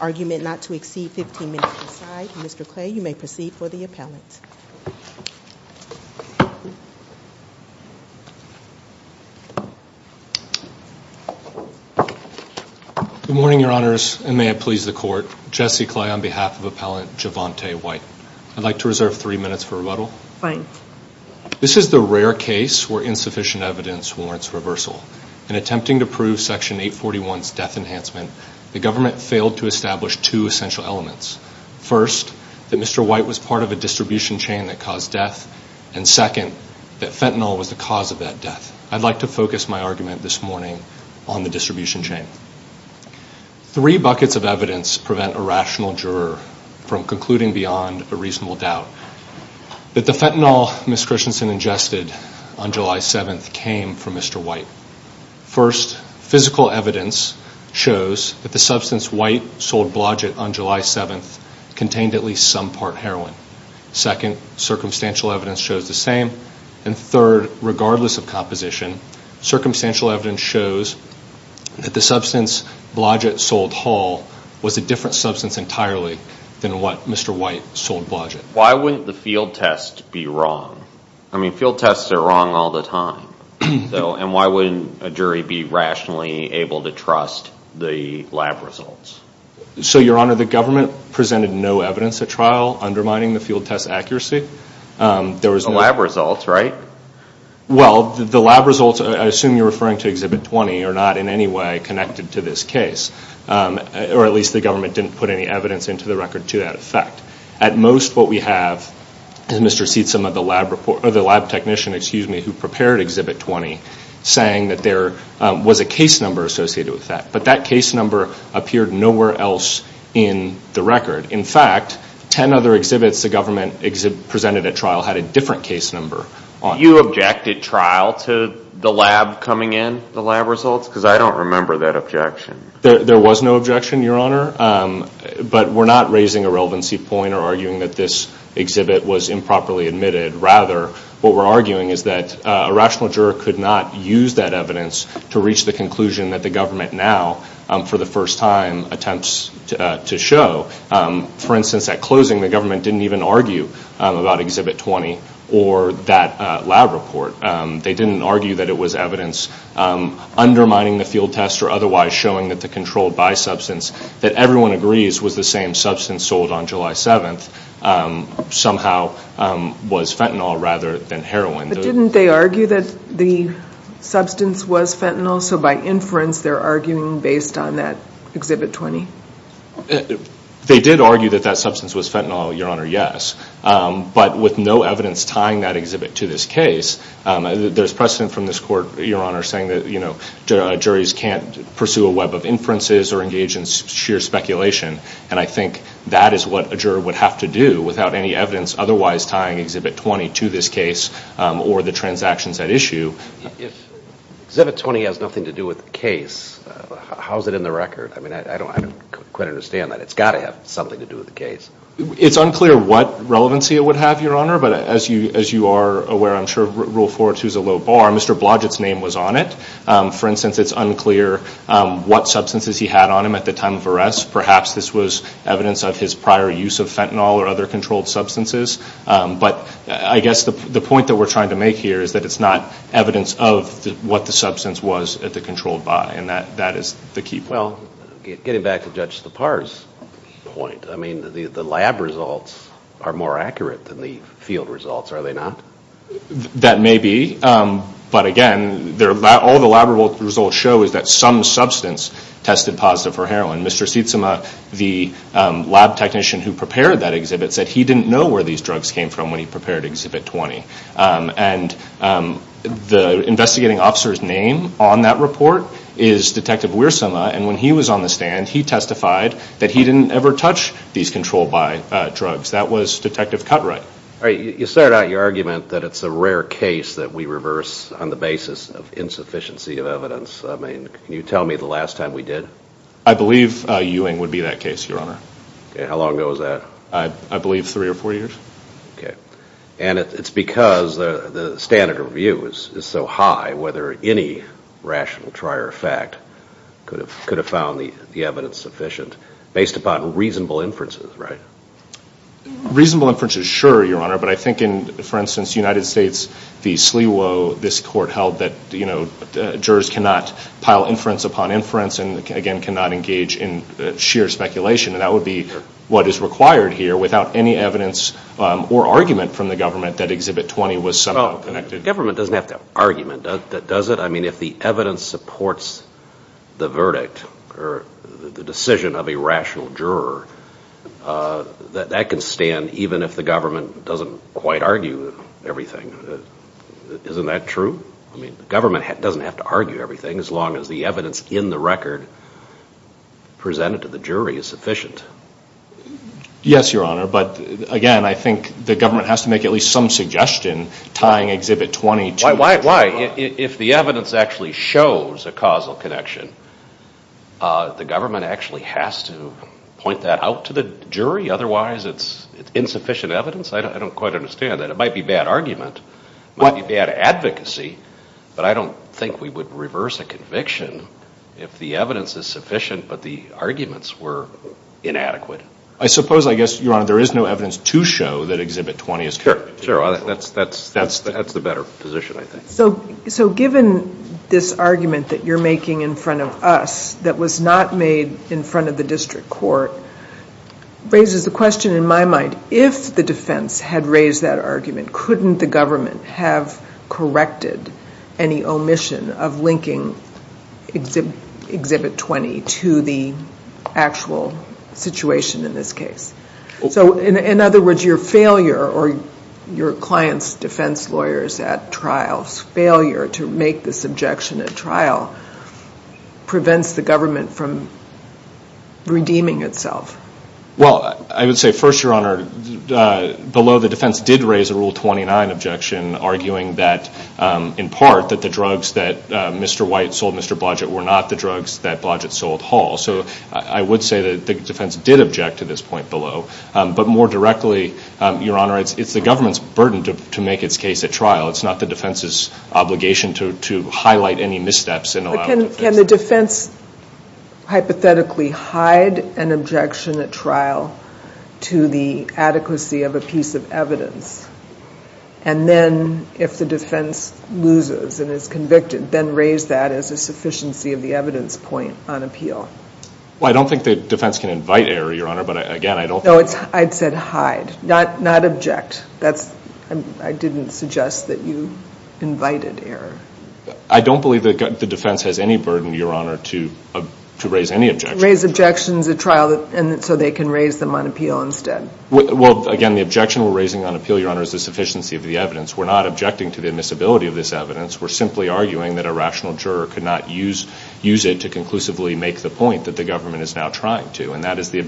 Argument not to exceed 15 minutes aside. Mr. Clay, you may proceed for the appellant. Good morning, Your Honors, and may it please the Court. Jesse Clay on behalf of Appellant Javontae White. I'd like to reserve three minutes for rebuttal. Fine. This is the rare case where insufficient evidence warrants reversal. In attempting to prove Section 841's death enhancement, the government failed to establish two essential elements. First, that Mr. White was part of a distribution chain that caused death, and second, that fentanyl was the cause of that death. I'd like to focus my argument this morning on the distribution chain. Three buckets of evidence prevent a rational juror from concluding beyond a reasonable doubt. That the fentanyl Ms. Christensen ingested on July 7th came from Mr. White. First, physical evidence shows that the substance White sold Blodgett on July 7th contained at least some part heroin. Second, circumstantial evidence shows the same. And third, regardless of composition, circumstantial evidence shows that the substance Blodgett sold Hall was a different substance entirely than what Mr. White sold Blodgett. Why wouldn't the field test be wrong? I mean, field tests are wrong all the time. And why wouldn't a jury be rationally able to trust the lab results? So, Your Honor, the government presented no Well, the lab results, I assume you're referring to Exhibit 20, are not in any way connected to this case. Or at least the government didn't put any evidence into the record to that effect. At most, what we have is Mr. Seedsome of the lab report, or the lab technician, excuse me, who prepared Exhibit 20, saying that there was a case number associated with that. But that case number appeared nowhere else in the record. In fact, ten other exhibits the trial to the lab coming in, the lab results? Because I don't remember that objection. There was no objection, Your Honor. But we're not raising a relevancy point or arguing that this exhibit was improperly admitted. Rather, what we're arguing is that a rational juror could not use that evidence to reach the conclusion that the government now, for the first time, attempts to show. For instance, at closing, the government didn't even argue about Exhibit 20 in the lab report. They didn't argue that it was evidence undermining the field test or otherwise showing that the controlled by substance that everyone agrees was the same substance sold on July 7th, somehow was fentanyl rather than heroin. But didn't they argue that the substance was fentanyl? So by inference, they're arguing based on that Exhibit 20? They did argue that that substance was fentanyl, Your Honor, yes. But with no evidence tying that exhibit to this case, there's precedent from this court, Your Honor, saying that juries can't pursue a web of inferences or engage in sheer speculation. And I think that is what a juror would have to do without any evidence otherwise tying Exhibit 20 to this case or the transactions at issue. If Exhibit 20 has nothing to do with the case, how is it in the record? I mean, I don't quite understand that. It's got to have something to do with the case. It's unclear what relevancy it would have, Your Honor. But as you are aware, I'm sure Rule 4.2 is a low bar. Mr. Blodgett's name was on it. For instance, it's unclear what substances he had on him at the time of arrest. Perhaps this was evidence of his prior use of fentanyl or other controlled substances. But I guess the point that we're trying to make here is that it's not evidence of what the substance was at the controlled by. And that is the key point. Well, getting back to Judge Sipar's point, I mean, the lab results are more accurate than the field results, are they not? That may be. But again, all the lab results show is that some substance tested positive for heroin. Mr. Sitsuma, the lab technician who prepared that exhibit, said he didn't know where these drugs came from when he prepared Exhibit 20. And the investigating officer's name on that report is Detective Wiersuma. And when he was on the stand, he testified that he didn't ever touch these controlled by drugs. That was Detective Cutright. You started out your argument that it's a rare case that we reverse on the basis of insufficiency of evidence. I mean, can you tell me the last time we did? I believe Ewing would be that case, Your Honor. How long ago was that? I believe three or four years. Okay. And it's because the standard of view is so high, whether any rational trier of fact could have found the evidence sufficient based upon reasonable inferences, right? Reasonable inferences, sure, Your Honor. But I think in, for instance, the United States, the SLEWO, this court held that jurors cannot pile inference upon inference and, again, cannot engage in sheer speculation. And that would be what is required here without any evidence or argument from the government that Exhibit 20 was somehow connected. Government doesn't have to have argument, does it? I mean, if the evidence supports the verdict or the decision of a rational juror, that can stand even if the government doesn't quite argue everything. Isn't that true? I mean, government doesn't have to argue everything as long as the evidence in the record presented to the jury is sufficient. Yes, Your Honor. But, again, I think the government has to make at least some suggestion tying Exhibit 20 to the jury. Why? If the evidence actually shows a causal connection, the government actually has to point that out to the jury? Otherwise, it's insufficient evidence? I don't quite understand that. It might be bad argument. It might be bad advocacy. But I don't think we would reverse a conviction if the evidence is sufficient but the arguments were inadequate. I suppose, I guess, Your Honor, there is no evidence to show that Exhibit 20 is correct. Sure. Sure. That's the better position, I think. So given this argument that you're making in front of us that was not made in front of the district court raises the question in my mind, if the defense had raised that argument, couldn't the government have corrected any omission of linking Exhibit 20 to the actual situation in this case? So, in other words, your failure or your client's defense lawyers at trial's failure to make this objection at trial prevents the government from redeeming itself? Well, I would say, first, Your Honor, below the defense did raise a Rule 29 objection arguing that, in part, that the drugs that Mr. White sold Mr. Blodgett were not the drugs that Blodgett sold Hall. So I would say that the defense did object to this point below. But more directly, Your Honor, it's the government's burden to make its case at trial. It's not the defense's obligation to highlight any missteps. But can the defense hypothetically hide an objection at trial to the adequacy of a piece of evidence? And then, if the defense loses and is convicted, then raise that as a sufficiency of the evidence point on appeal? Well, I don't think the defense can invite error, Your Honor, but, again, I don't think... I don't think the defense has any burden, Your Honor, to raise any objection. Raise objections at trial so they can raise them on appeal instead? Well, again, the objection we're raising on appeal, Your Honor, is the sufficiency of the evidence. We're not objecting to the admissibility of this evidence. We're simply arguing that a rational juror could not use it to conclusively make the point that the government is now trying to. And that is the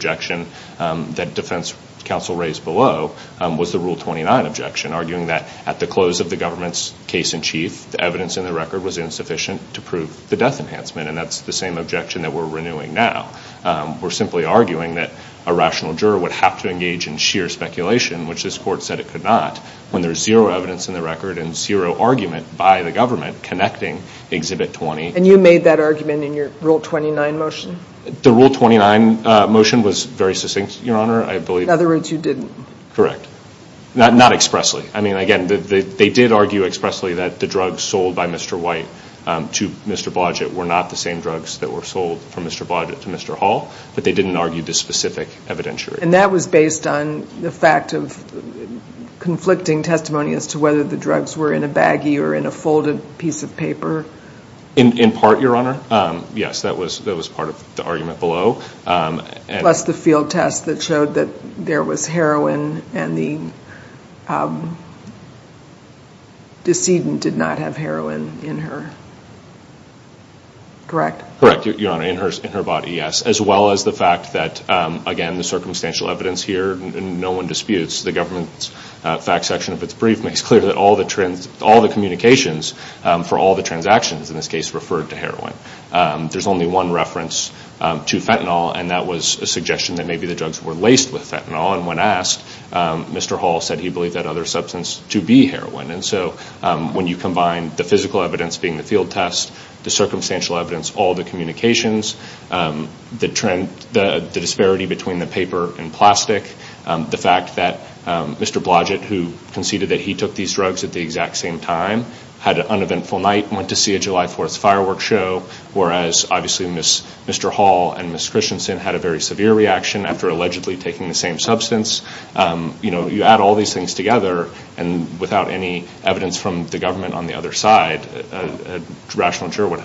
death enhancement, and that's the same objection that we're renewing now. We're simply arguing that a rational juror would have to engage in sheer speculation, which this Court said it could not, when there's zero evidence in the record and zero argument by the government connecting Exhibit 20. And you made that argument in your Rule 29 motion? The Rule 29 motion was very succinct, Your Honor. In other words, you didn't? Correct. Not expressly. I mean, again, they did argue expressly that the drugs sold by Mr. White to Mr. Blodgett were not the same drugs that were sold from Mr. Blodgett to Mr. Hall, but they didn't argue this specific evidentiary. And that was based on the fact of conflicting testimony as to whether the drugs were in a baggie or in a folded piece of paper? In part, Your Honor. Yes, that was part of the argument below. Plus the field test that showed that there was heroin and the decedent did not have heroin in her. Correct? Correct, Your Honor. In her body, yes. As well as the fact that, again, the circumstantial evidence here, no one disputes, the government's facts section of its brief makes clear that all the communications for all the transactions in this case referred to heroin. There's only one reference to fentanyl, and that was a suggestion that maybe the drugs were laced with fentanyl. And when asked, Mr. Hall said he believed that other substance to be heroin. And so when you combine the physical evidence being the field test, the circumstantial evidence, all the communications, the evidence, and the fact that Mr. Hall, who conceded that he took these drugs at the exact same time, had an uneventful night and went to see a July 4th firework show, whereas obviously Mr. Hall and Ms. Christensen had a very severe reaction after allegedly taking the same substance. You add all these things together, and without any evidence from the government on the other side, a rational juror would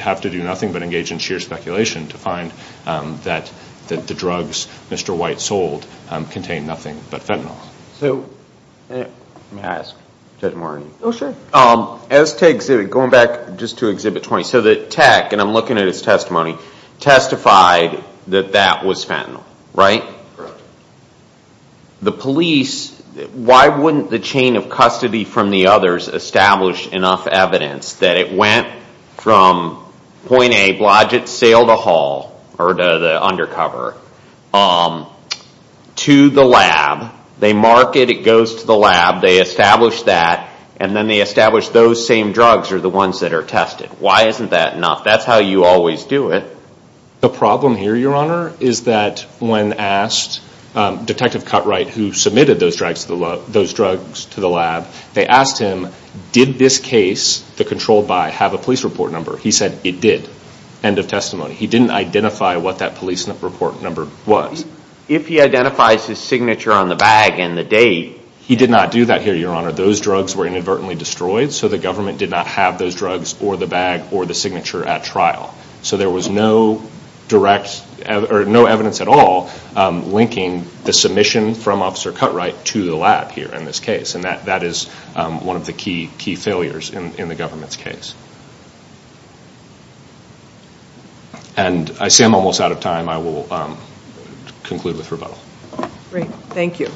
have to do nothing but engage in sheer speculation to find that the drugs Mr. White sold contained nothing but fentanyl. So, may I ask Judge Morgan? Oh, sure. Going back just to Exhibit 20, so the tech, and I'm looking at his testimony, testified that that was fentanyl, right? Correct. The police, why wouldn't the chain of custody from the others establish enough evidence that it went from point A, Blodgett's sale to Hall, or the undercover, to the lab? They mark it, it goes to the lab, they establish that, and then they establish those same drugs are the ones that are tested. Why isn't that enough? That's how you always do it. The problem here, Your Honor, is that when asked, Detective Cutright, who submitted those drugs to the lab, they asked him, did this case, the controlled by, have a police report number? He said, it did. End of testimony. He didn't identify what that police report number was. If he identifies his signature on the bag and the date... He did not do that here, Your Honor. Those drugs were inadvertently destroyed, so the government did not have those drugs, or the bag, or the signature at trial. So there was no direct, or no evidence at all, linking the submission from Officer Cutright to the lab here in this case. That is one of the key failures in the government's case. I see I'm almost out of time. I will conclude with rebuttal. Great. Thank you.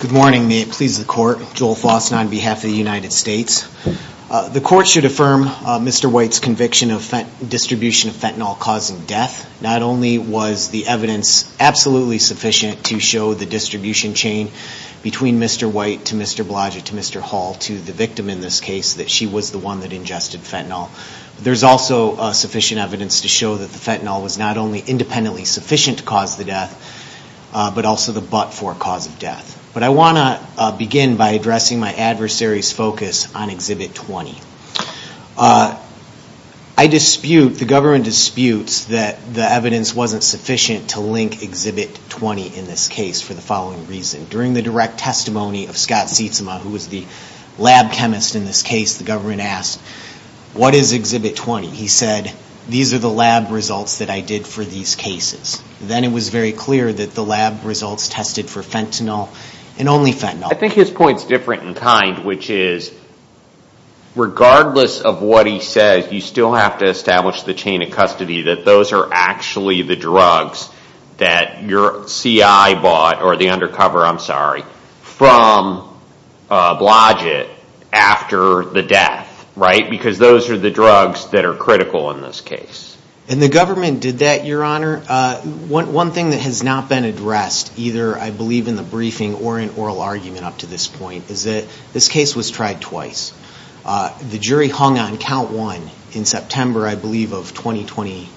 Good morning. May it please the Court. Joel Fausten on behalf of the United States. The Court should affirm Mr. White's conviction of distribution of fentanyl causing death. Not only was the evidence absolutely sufficient to show the distribution chain between Mr. White to Mr. Blodgett to Mr. Hall to the victim, in this case, that she was the one that ingested fentanyl, but there's also sufficient evidence to show that the fentanyl was not only independently sufficient to cause the death, but also the but-for cause of death. But I want to begin by addressing my adversary's focus on Exhibit 20. I dispute, the government disputes, that the evidence wasn't sufficient to link Exhibit 20 in this case for the following reason. During the direct testimony of Scott Sietsema, who was the lab chemist in this case, the government asked, what is Exhibit 20? He said, these are the lab results that I did for these cases. Then it was very clear that the lab results tested for fentanyl and only fentanyl. I think his point's different in kind, which is, regardless of what he says, you still have to establish the chain of custody that those are actually the drugs that your CI bought, or the undercover, I'm sorry, from Blodgett after the death, right? Because those are the drugs that are critical in this case. And the government did that, Your Honor. One thing that has not been addressed, either, I believe, in the briefing or in oral argument up to this point, is that this case was tried twice. The jury hung on Count 1 in September, I believe, of 2020,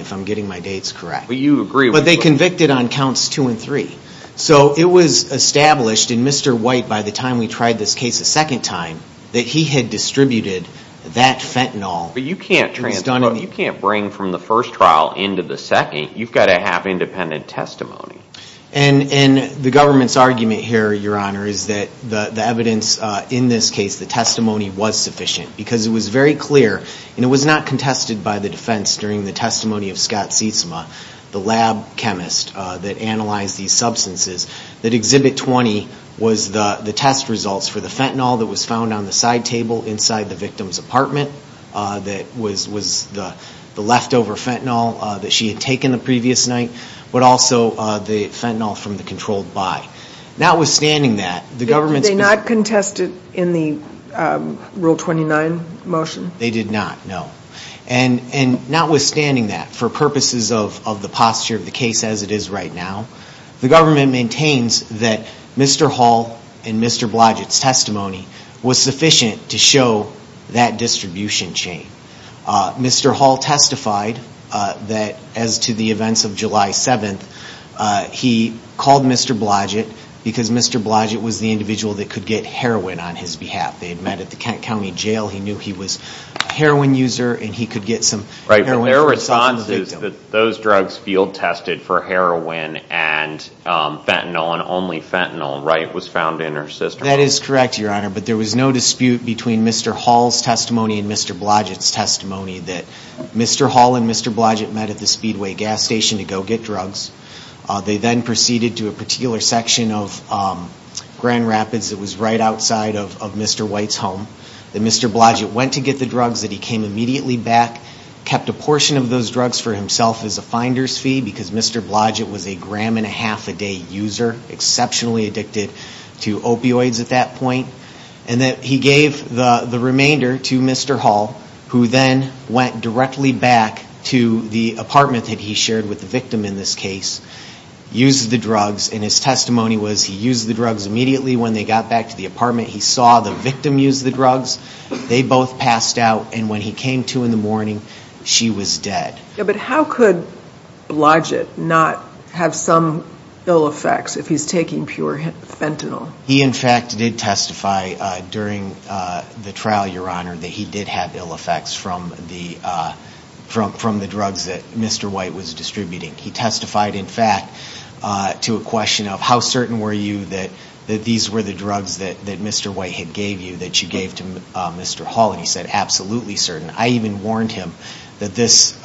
if I'm getting my dates correct. But they convicted on Counts 2 and 3. So it was established in Mr. White, by the time we tried this case a second time, that he had distributed that fentanyl. But you can't bring from the first trial into the second. You've got to have independent testimony. And the government's argument here, Your Honor, is that the evidence in this case, the testimony was sufficient. Because it was very clear, and it was not contested by the defense during the testimony of Scott Sietsema, the lab chemist that analyzed these substances, that Exhibit 20 was the test results for the fentanyl that was found on the side table inside the victim's apartment, that was the leftover fentanyl that she had taken the previous night, but also the fentanyl from the controlled buy. Notwithstanding that, the government's been... Did they not contest it in the Rule 29 motion? They did not, no. And notwithstanding that, for purposes of the posture of the case as it is right now, the government maintains that Mr. Hall and Mr. Blodgett's testimony was sufficient to show that distribution chain. Mr. Hall testified that, as to the events of July 7th, he called Mr. Blodgett because Mr. Blodgett was the individual that could get heroin on his behalf. They had met at the Kent County Jail. He knew he was a heroin user, and he could get some heroin from a suspect. Right, but their response is that those drugs field-tested for heroin and fentanyl, and only fentanyl, right, was found in her system. That is correct, Your Honor, but there was no dispute between Mr. Hall's testimony and Mr. Blodgett's testimony that Mr. Hall and Mr. Blodgett met at the Speedway gas station to go get drugs. They then proceeded to a particular section of Grand Rapids that was right outside of Mr. White's home, that Mr. Blodgett went to get the drugs, that he came immediately back, kept a portion of those drugs for himself as a finder's fee, because Mr. Blodgett was a gram-and-a-half-a-day user, exceptionally addicted to opioids at that point, and that he gave the remainder to Mr. Hall, who then went directly back to the apartment that he shared with the victim in this case, used the drugs, and his testimony was he used the drugs immediately when they got back to the apartment. He saw the victim use the drugs. They both passed out, and when he came to in the morning, she was dead. But how could Blodgett not have some ill effects if he's taking pure fentanyl? He, in fact, did testify during the trial, Your Honor, that he did have ill effects from the drugs that Mr. White was distributing. He testified, in fact, to a question of, how certain were you that these were the drugs that Mr. White had gave you, that you gave to Mr. Hall? And he said, absolutely certain. I even warned him that this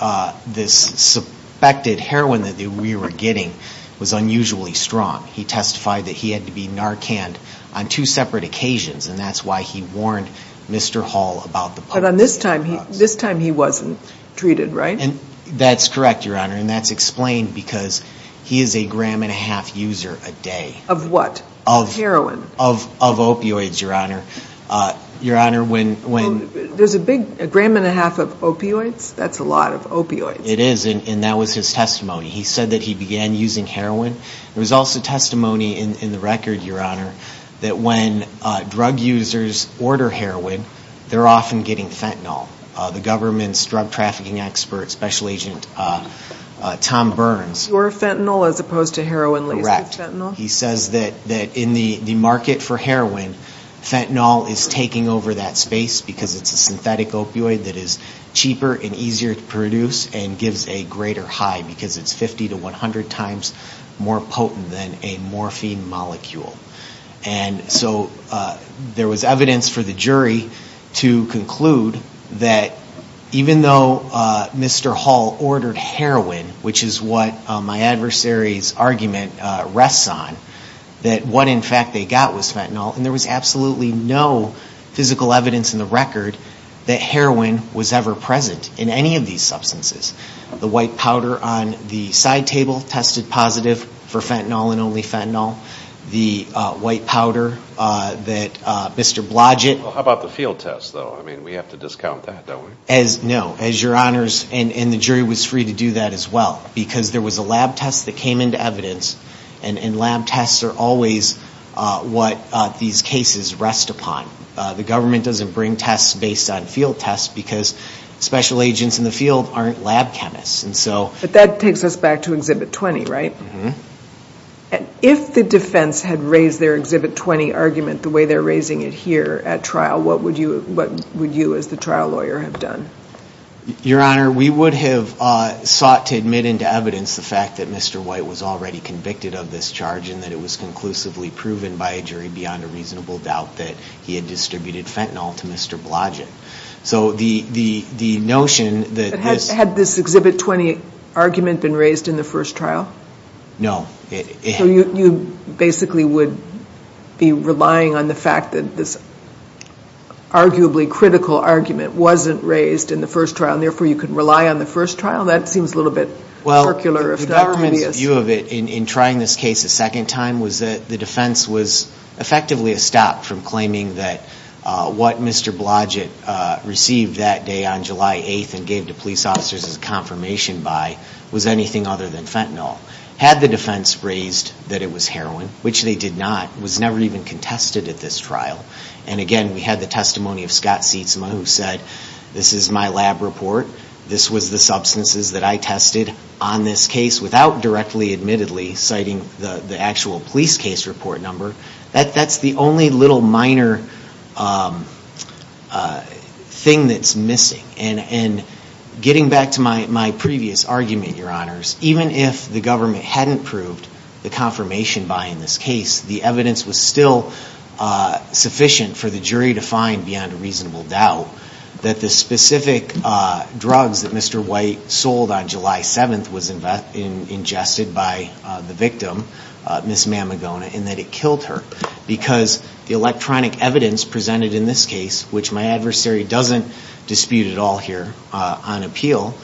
suspected heroin that we were getting was unusually strong. He testified that he had to be Narcan'd on two separate occasions, and that's why he warned Mr. Hall about the possibility of drugs. But this time he wasn't treated, right? That's correct, Your Honor, and that's explained because he is a gram and a half user a day. Of what? Heroin? Of opioids, Your Honor. Your Honor, when... There's a big gram and a half of opioids? That's a lot of opioids. It is, and that was his testimony. He said that he began using heroin. There was also testimony in the record, Your Honor, that when drug users order heroin, they're often getting fentanyl. The government's drug trafficking expert, Special Agent Tom Burns... You're fentanyl as opposed to heroin laced with fentanyl? Correct. He says that in the market for heroin, fentanyl is taking over that space because it's a synthetic opioid that is cheaper and easier to produce and gives a greater high because it's 50 to 100 times more potent than a morphine molecule. And so there was evidence for the jury to conclude that even though Mr. Hall ordered heroin, which is what my adversary's argument rests on, that what in fact they got was fentanyl, and there was absolutely no physical evidence in the record that heroin was ever present in any of these substances. The white powder on the side table tested positive for fentanyl and only fentanyl. The white powder that Mr. Blodgett... How about the field test, though? I mean, we have to discount that, don't we? No. As Your Honors, and the jury was free to do that as well, because there was a lab test that came into evidence, and lab tests are always what these cases rest upon. The government doesn't bring tests based on field tests because special agents in the field aren't lab chemists. But that takes us back to Exhibit 20, right? If the defense had raised their Exhibit 20 argument the way they're raising it here at trial, what would you as the trial lawyer have done? Your Honor, we would have sought to admit into evidence the fact that Mr. White was already convicted of this charge and that it was conclusively proven by a jury beyond a reasonable doubt that he had distributed fentanyl to Mr. Blodgett. So the notion that this... Had this Exhibit 20 argument been raised in the first trial? No. So you basically would be relying on the fact that this arguably critical argument wasn't raised in the first trial, and therefore you could rely on the first trial? Well, the government's view of it in trying this case a second time was that the defense was effectively stopped from claiming that what Mr. Blodgett received that day on July 8th and gave to police officers as confirmation by was anything other than fentanyl. Had the defense raised that it was heroin, which they did not, was never even contested at this trial. And again, we had the testimony of Scott Seitzma who said, this is my lab report, this was the substances that I tested on this case without directly admittedly citing the actual police case report number. That's the only little minor thing that's missing. And getting back to my previous argument, Your Honors, even if the government hadn't approved the confirmation by in this case, the evidence was still sufficient for the jury to find beyond a reasonable doubt that the specific drugs that Mr. White sold on July 7th was ingested by the victim, Ms. Mamagona, and that it killed her. Because the electronic evidence presented in this case, which my adversary doesn't dispute at all here on appeal,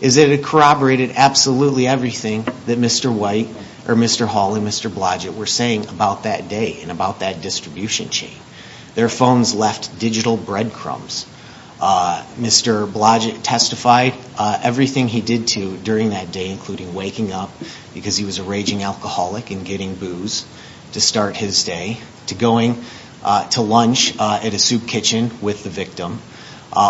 is that it corroborated absolutely everything that Mr. White, or Mr. Hall and Mr. Blodgett were saying about that day and about that distribution chain. Their phones left digital breadcrumbs. Mr. Blodgett testified everything he did to during that day, including waking up because he was a raging alcoholic and getting booze to start his day, to going to lunch at a soup kitchen with the victim.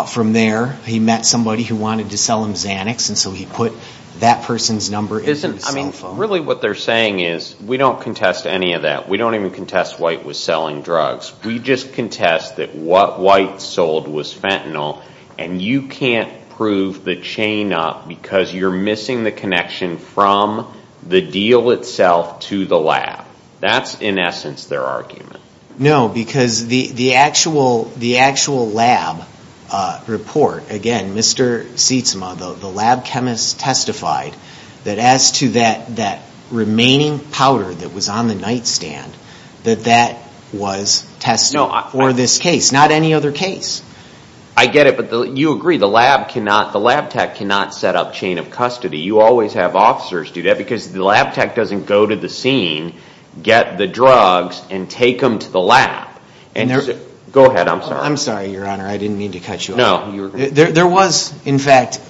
From there, he met somebody who wanted to sell him Xanax, and so he put that person's number into his cell phone. Really what they're saying is, we don't contest any of that. We don't even contest White was selling drugs. We just contest that what White sold was fentanyl, and you can't prove the chain up because you're missing the connection from the deal itself to the lab. That's, in essence, their argument. No, because the actual lab report, again, Mr. Sietsema, the lab chemist testified that as to that remaining powder that was on the nightstand, that that was tested for this case. Not any other case. I get it, but you agree. The lab tech cannot set up chain of custody. You always have officers do that because the lab tech doesn't go to the scene, get the drugs, and take them to the lab. Go ahead. I'm sorry. I'm sorry, Your Honor. I didn't mean to cut you off. There was, in fact,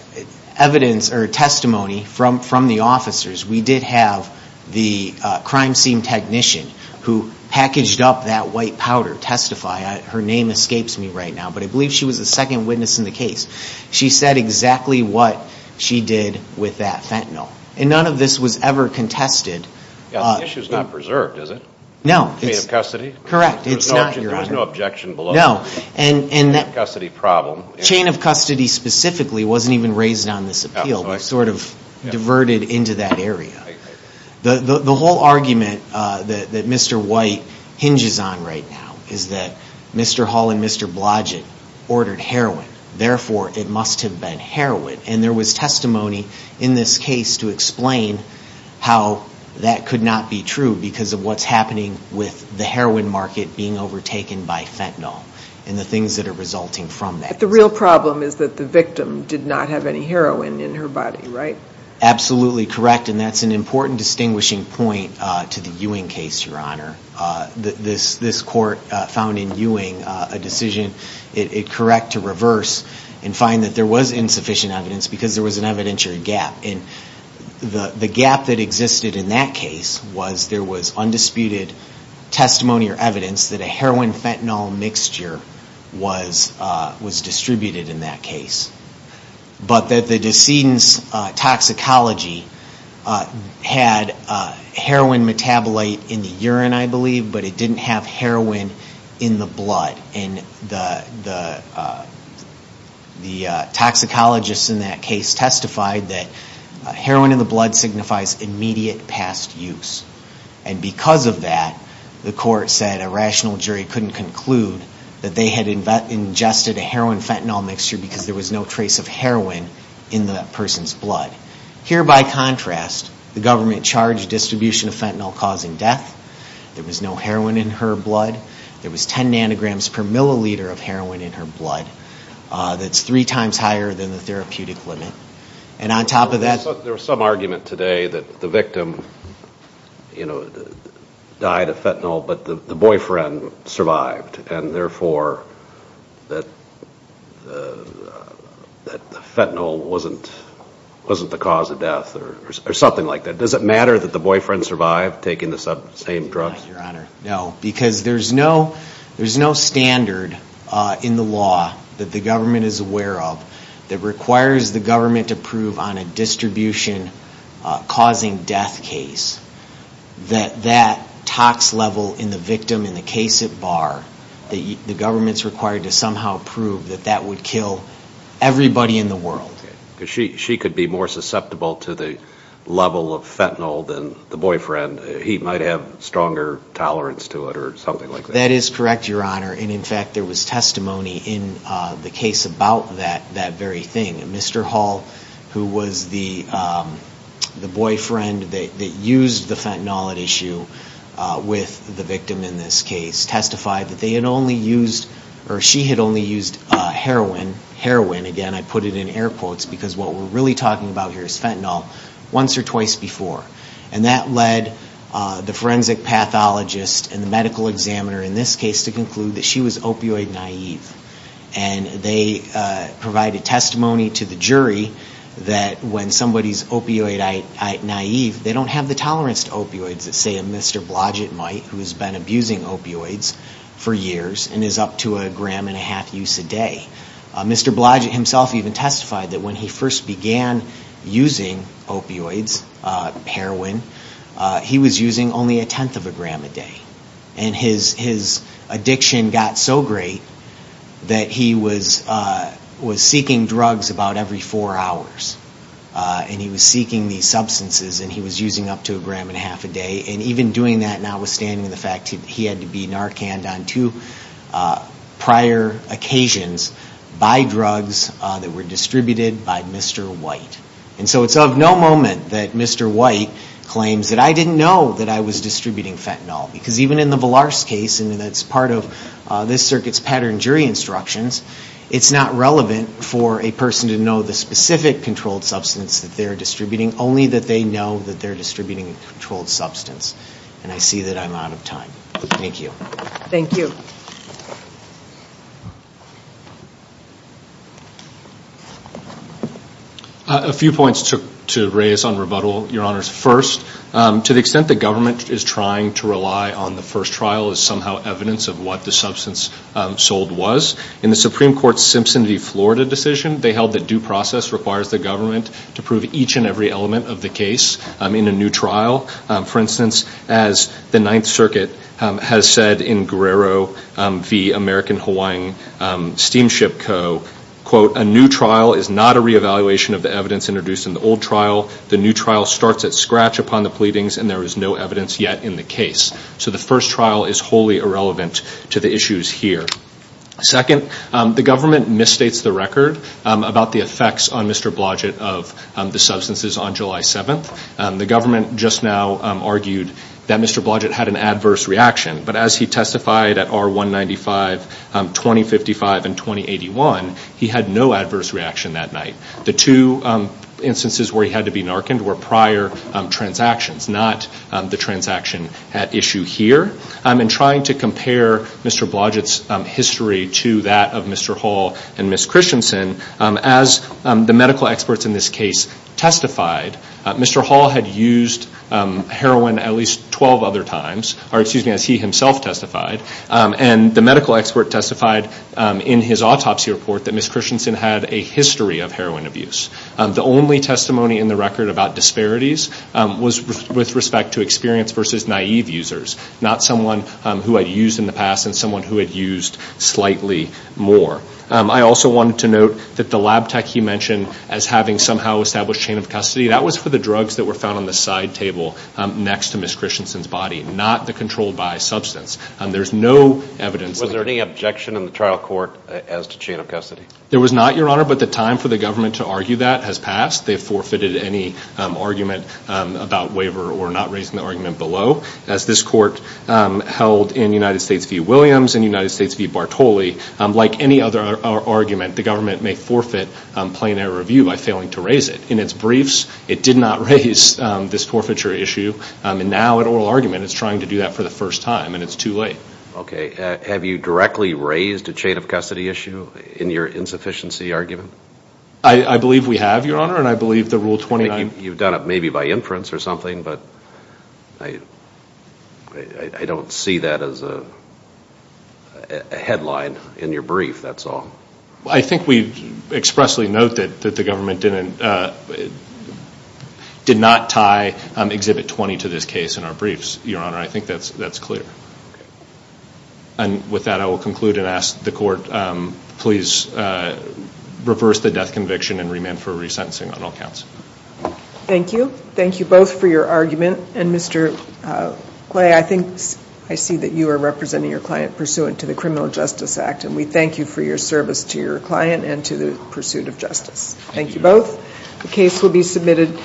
evidence or testimony from the officers. We did have the crime scene technician who packaged up that white powder, testify. Her name escapes me right now, but I believe she was the second witness in the case. She said exactly what she did with that fentanyl, and none of this was ever contested. The issue is not preserved, is it? No. Chain of custody? Correct. It's not, Your Honor. There was no objection below. No. Chain of custody specifically wasn't even raised on this appeal. It was sort of diverted into that area. The whole argument that Mr. White hinges on right now is that Mr. Hall and Mr. Blodgett ordered heroin. Therefore, it must have been heroin. And there was testimony in this case to explain how that could not be true because of what's happening with the heroin market being overtaken by fentanyl and the things that are resulting from that. But the real problem is that the victim did not have any heroin in her body, right? Absolutely correct. And that's an important distinguishing point to the Ewing case, Your Honor. This court found in Ewing a decision it correct to reverse and find that there was insufficient evidence because there was an evidentiary gap. And the gap that existed in that case was there was undisputed testimony or evidence that a heroin-fentanyl mixture was distributed in that case. But that the decedent's toxicology had heroin metabolite in the urine, I believe, but it didn't have heroin in the blood. And heroin in the blood signifies immediate past use. And because of that, the court said a rational jury couldn't conclude that they had ingested a heroin-fentanyl mixture because there was no trace of heroin in that person's blood. Here, by contrast, the government charged distribution of fentanyl causing death. There was no heroin in her blood. There was 10 nanograms per milliliter of heroin in her blood. That's three times higher than the therapeutic limit. And on top of that... There was some argument today that the victim, you know, died of fentanyl, but the boyfriend survived. And therefore, that fentanyl wasn't the cause of death or something like that. Does it matter that the boyfriend survived taking the same drugs? No, because there's no standard in the law that the government is aware of that requires the government to prove on a distribution causing death case that that tox level in the victim, in the case at bar, the government's required to somehow prove that that would kill everybody in the world. She could be more susceptible to the level of fentanyl than the boyfriend. He might have stronger tolerance to it or something like that. That is correct, Your Honor. And in fact, there was testimony in the case about that very thing. Mr. Hall, who was the boyfriend that used the fentanyl at issue with the victim in this case, testified that they had only used heroin. Heroin, again, I put it in air quotes, because what we're really talking about here is fentanyl once or twice before. And that led the forensic pathologist and the medical examiner in this case to conclude that she was opioid naive. And they provided testimony to the jury that when somebody's opioid naive, they don't have the tolerance to opioids that, say, a Mr. Blodgett might, who's been abusing opioids for years and is up to a gram and a half use a day. Mr. Blodgett himself even testified that when he first began using opioids, heroin, he was using only a tenth of a gram a day. And his addiction got so great that he was seeking drugs about every four hours. And he was not understanding the fact that he had to be Narcan'd on two prior occasions by drugs that were distributed by Mr. White. And so it's of no moment that Mr. White claims that I didn't know that I was distributing fentanyl. Because even in the Villars case, and that's part of this circuit's pattern jury instructions, it's not relevant for a person to know the specific controlled substance that they're distributing, only that they know that they're distributing a controlled substance. And I see that I'm out of time. Thank you. A few points to raise on rebuttal, Your Honors. First, to the extent that government is trying to rely on the first trial as somehow evidence of what the substance sold was, in the Supreme Court's Simpson v. Florida decision, they held that due process requires the government to prove each and every element of the case in a new trial. For instance, as the Ninth Circuit has said in Guerrero v. American-Hawaiian Steamship Co., quote, a new trial is not a reevaluation of the evidence introduced in the old trial. The new trial starts at scratch upon the pleadings, and there is no evidence yet in the case. So the first trial is wholly irrelevant to the issues here. Second, the government misstates the record about the effects on Mr. Blodgett of the substances on July 7th. The government just now argued that Mr. Blodgett had an adverse reaction. But as he testified at R-195, 2055, and 2081, he had no adverse reaction that night. The two instances where he had to be narcaned were prior transactions, not the history to that of Mr. Hall and Ms. Christensen. As the medical experts in this case testified, Mr. Hall had used heroin at least 12 other times, or excuse me, as he himself testified. And the medical expert testified in his autopsy report that Ms. Christensen had a history of heroin abuse. The only testimony in the record about disparities was with respect to experienced versus naive users, not someone who had used in the past and someone who had used slightly more. I also wanted to note that the lab tech he mentioned as having somehow established chain of custody, that was for the drugs that were found on the side table next to Ms. Christensen's body, not the controlled by substance. There's no evidence... Was there any objection in the trial court as to chain of custody? There was not, Your Honor, but the time for the government to argue that has passed. They've forfeited any argument about waiver or not raising the argument below. As this court held in United States v. Williams and United States v. Bartoli, like any other argument, the government may forfeit plain error review by failing to raise it. In its briefs, it did not raise this forfeiture issue, and now at oral argument it's trying to do that for the first time, and it's too late. Okay. Have you directly raised a chain of custody issue in your insufficiency argument? I believe we have, Your Honor, and I believe the Rule 29... You've done it maybe by inference or something, but I don't see that as a headline in your brief, that's all. I think we expressly note that the government did not tie Exhibit 20 to this case in our briefs, Your Honor. I think that's clear. And with that, I will conclude and ask the court please reverse the death conviction and remand for resentencing on all counts. Thank you. Thank you both for your argument, and Mr. Clay, I think I see that you are representing your client pursuant to the Criminal Justice Act, and we thank you for your service to your client and to the pursuit of justice. Thank you both. The case will be submitted.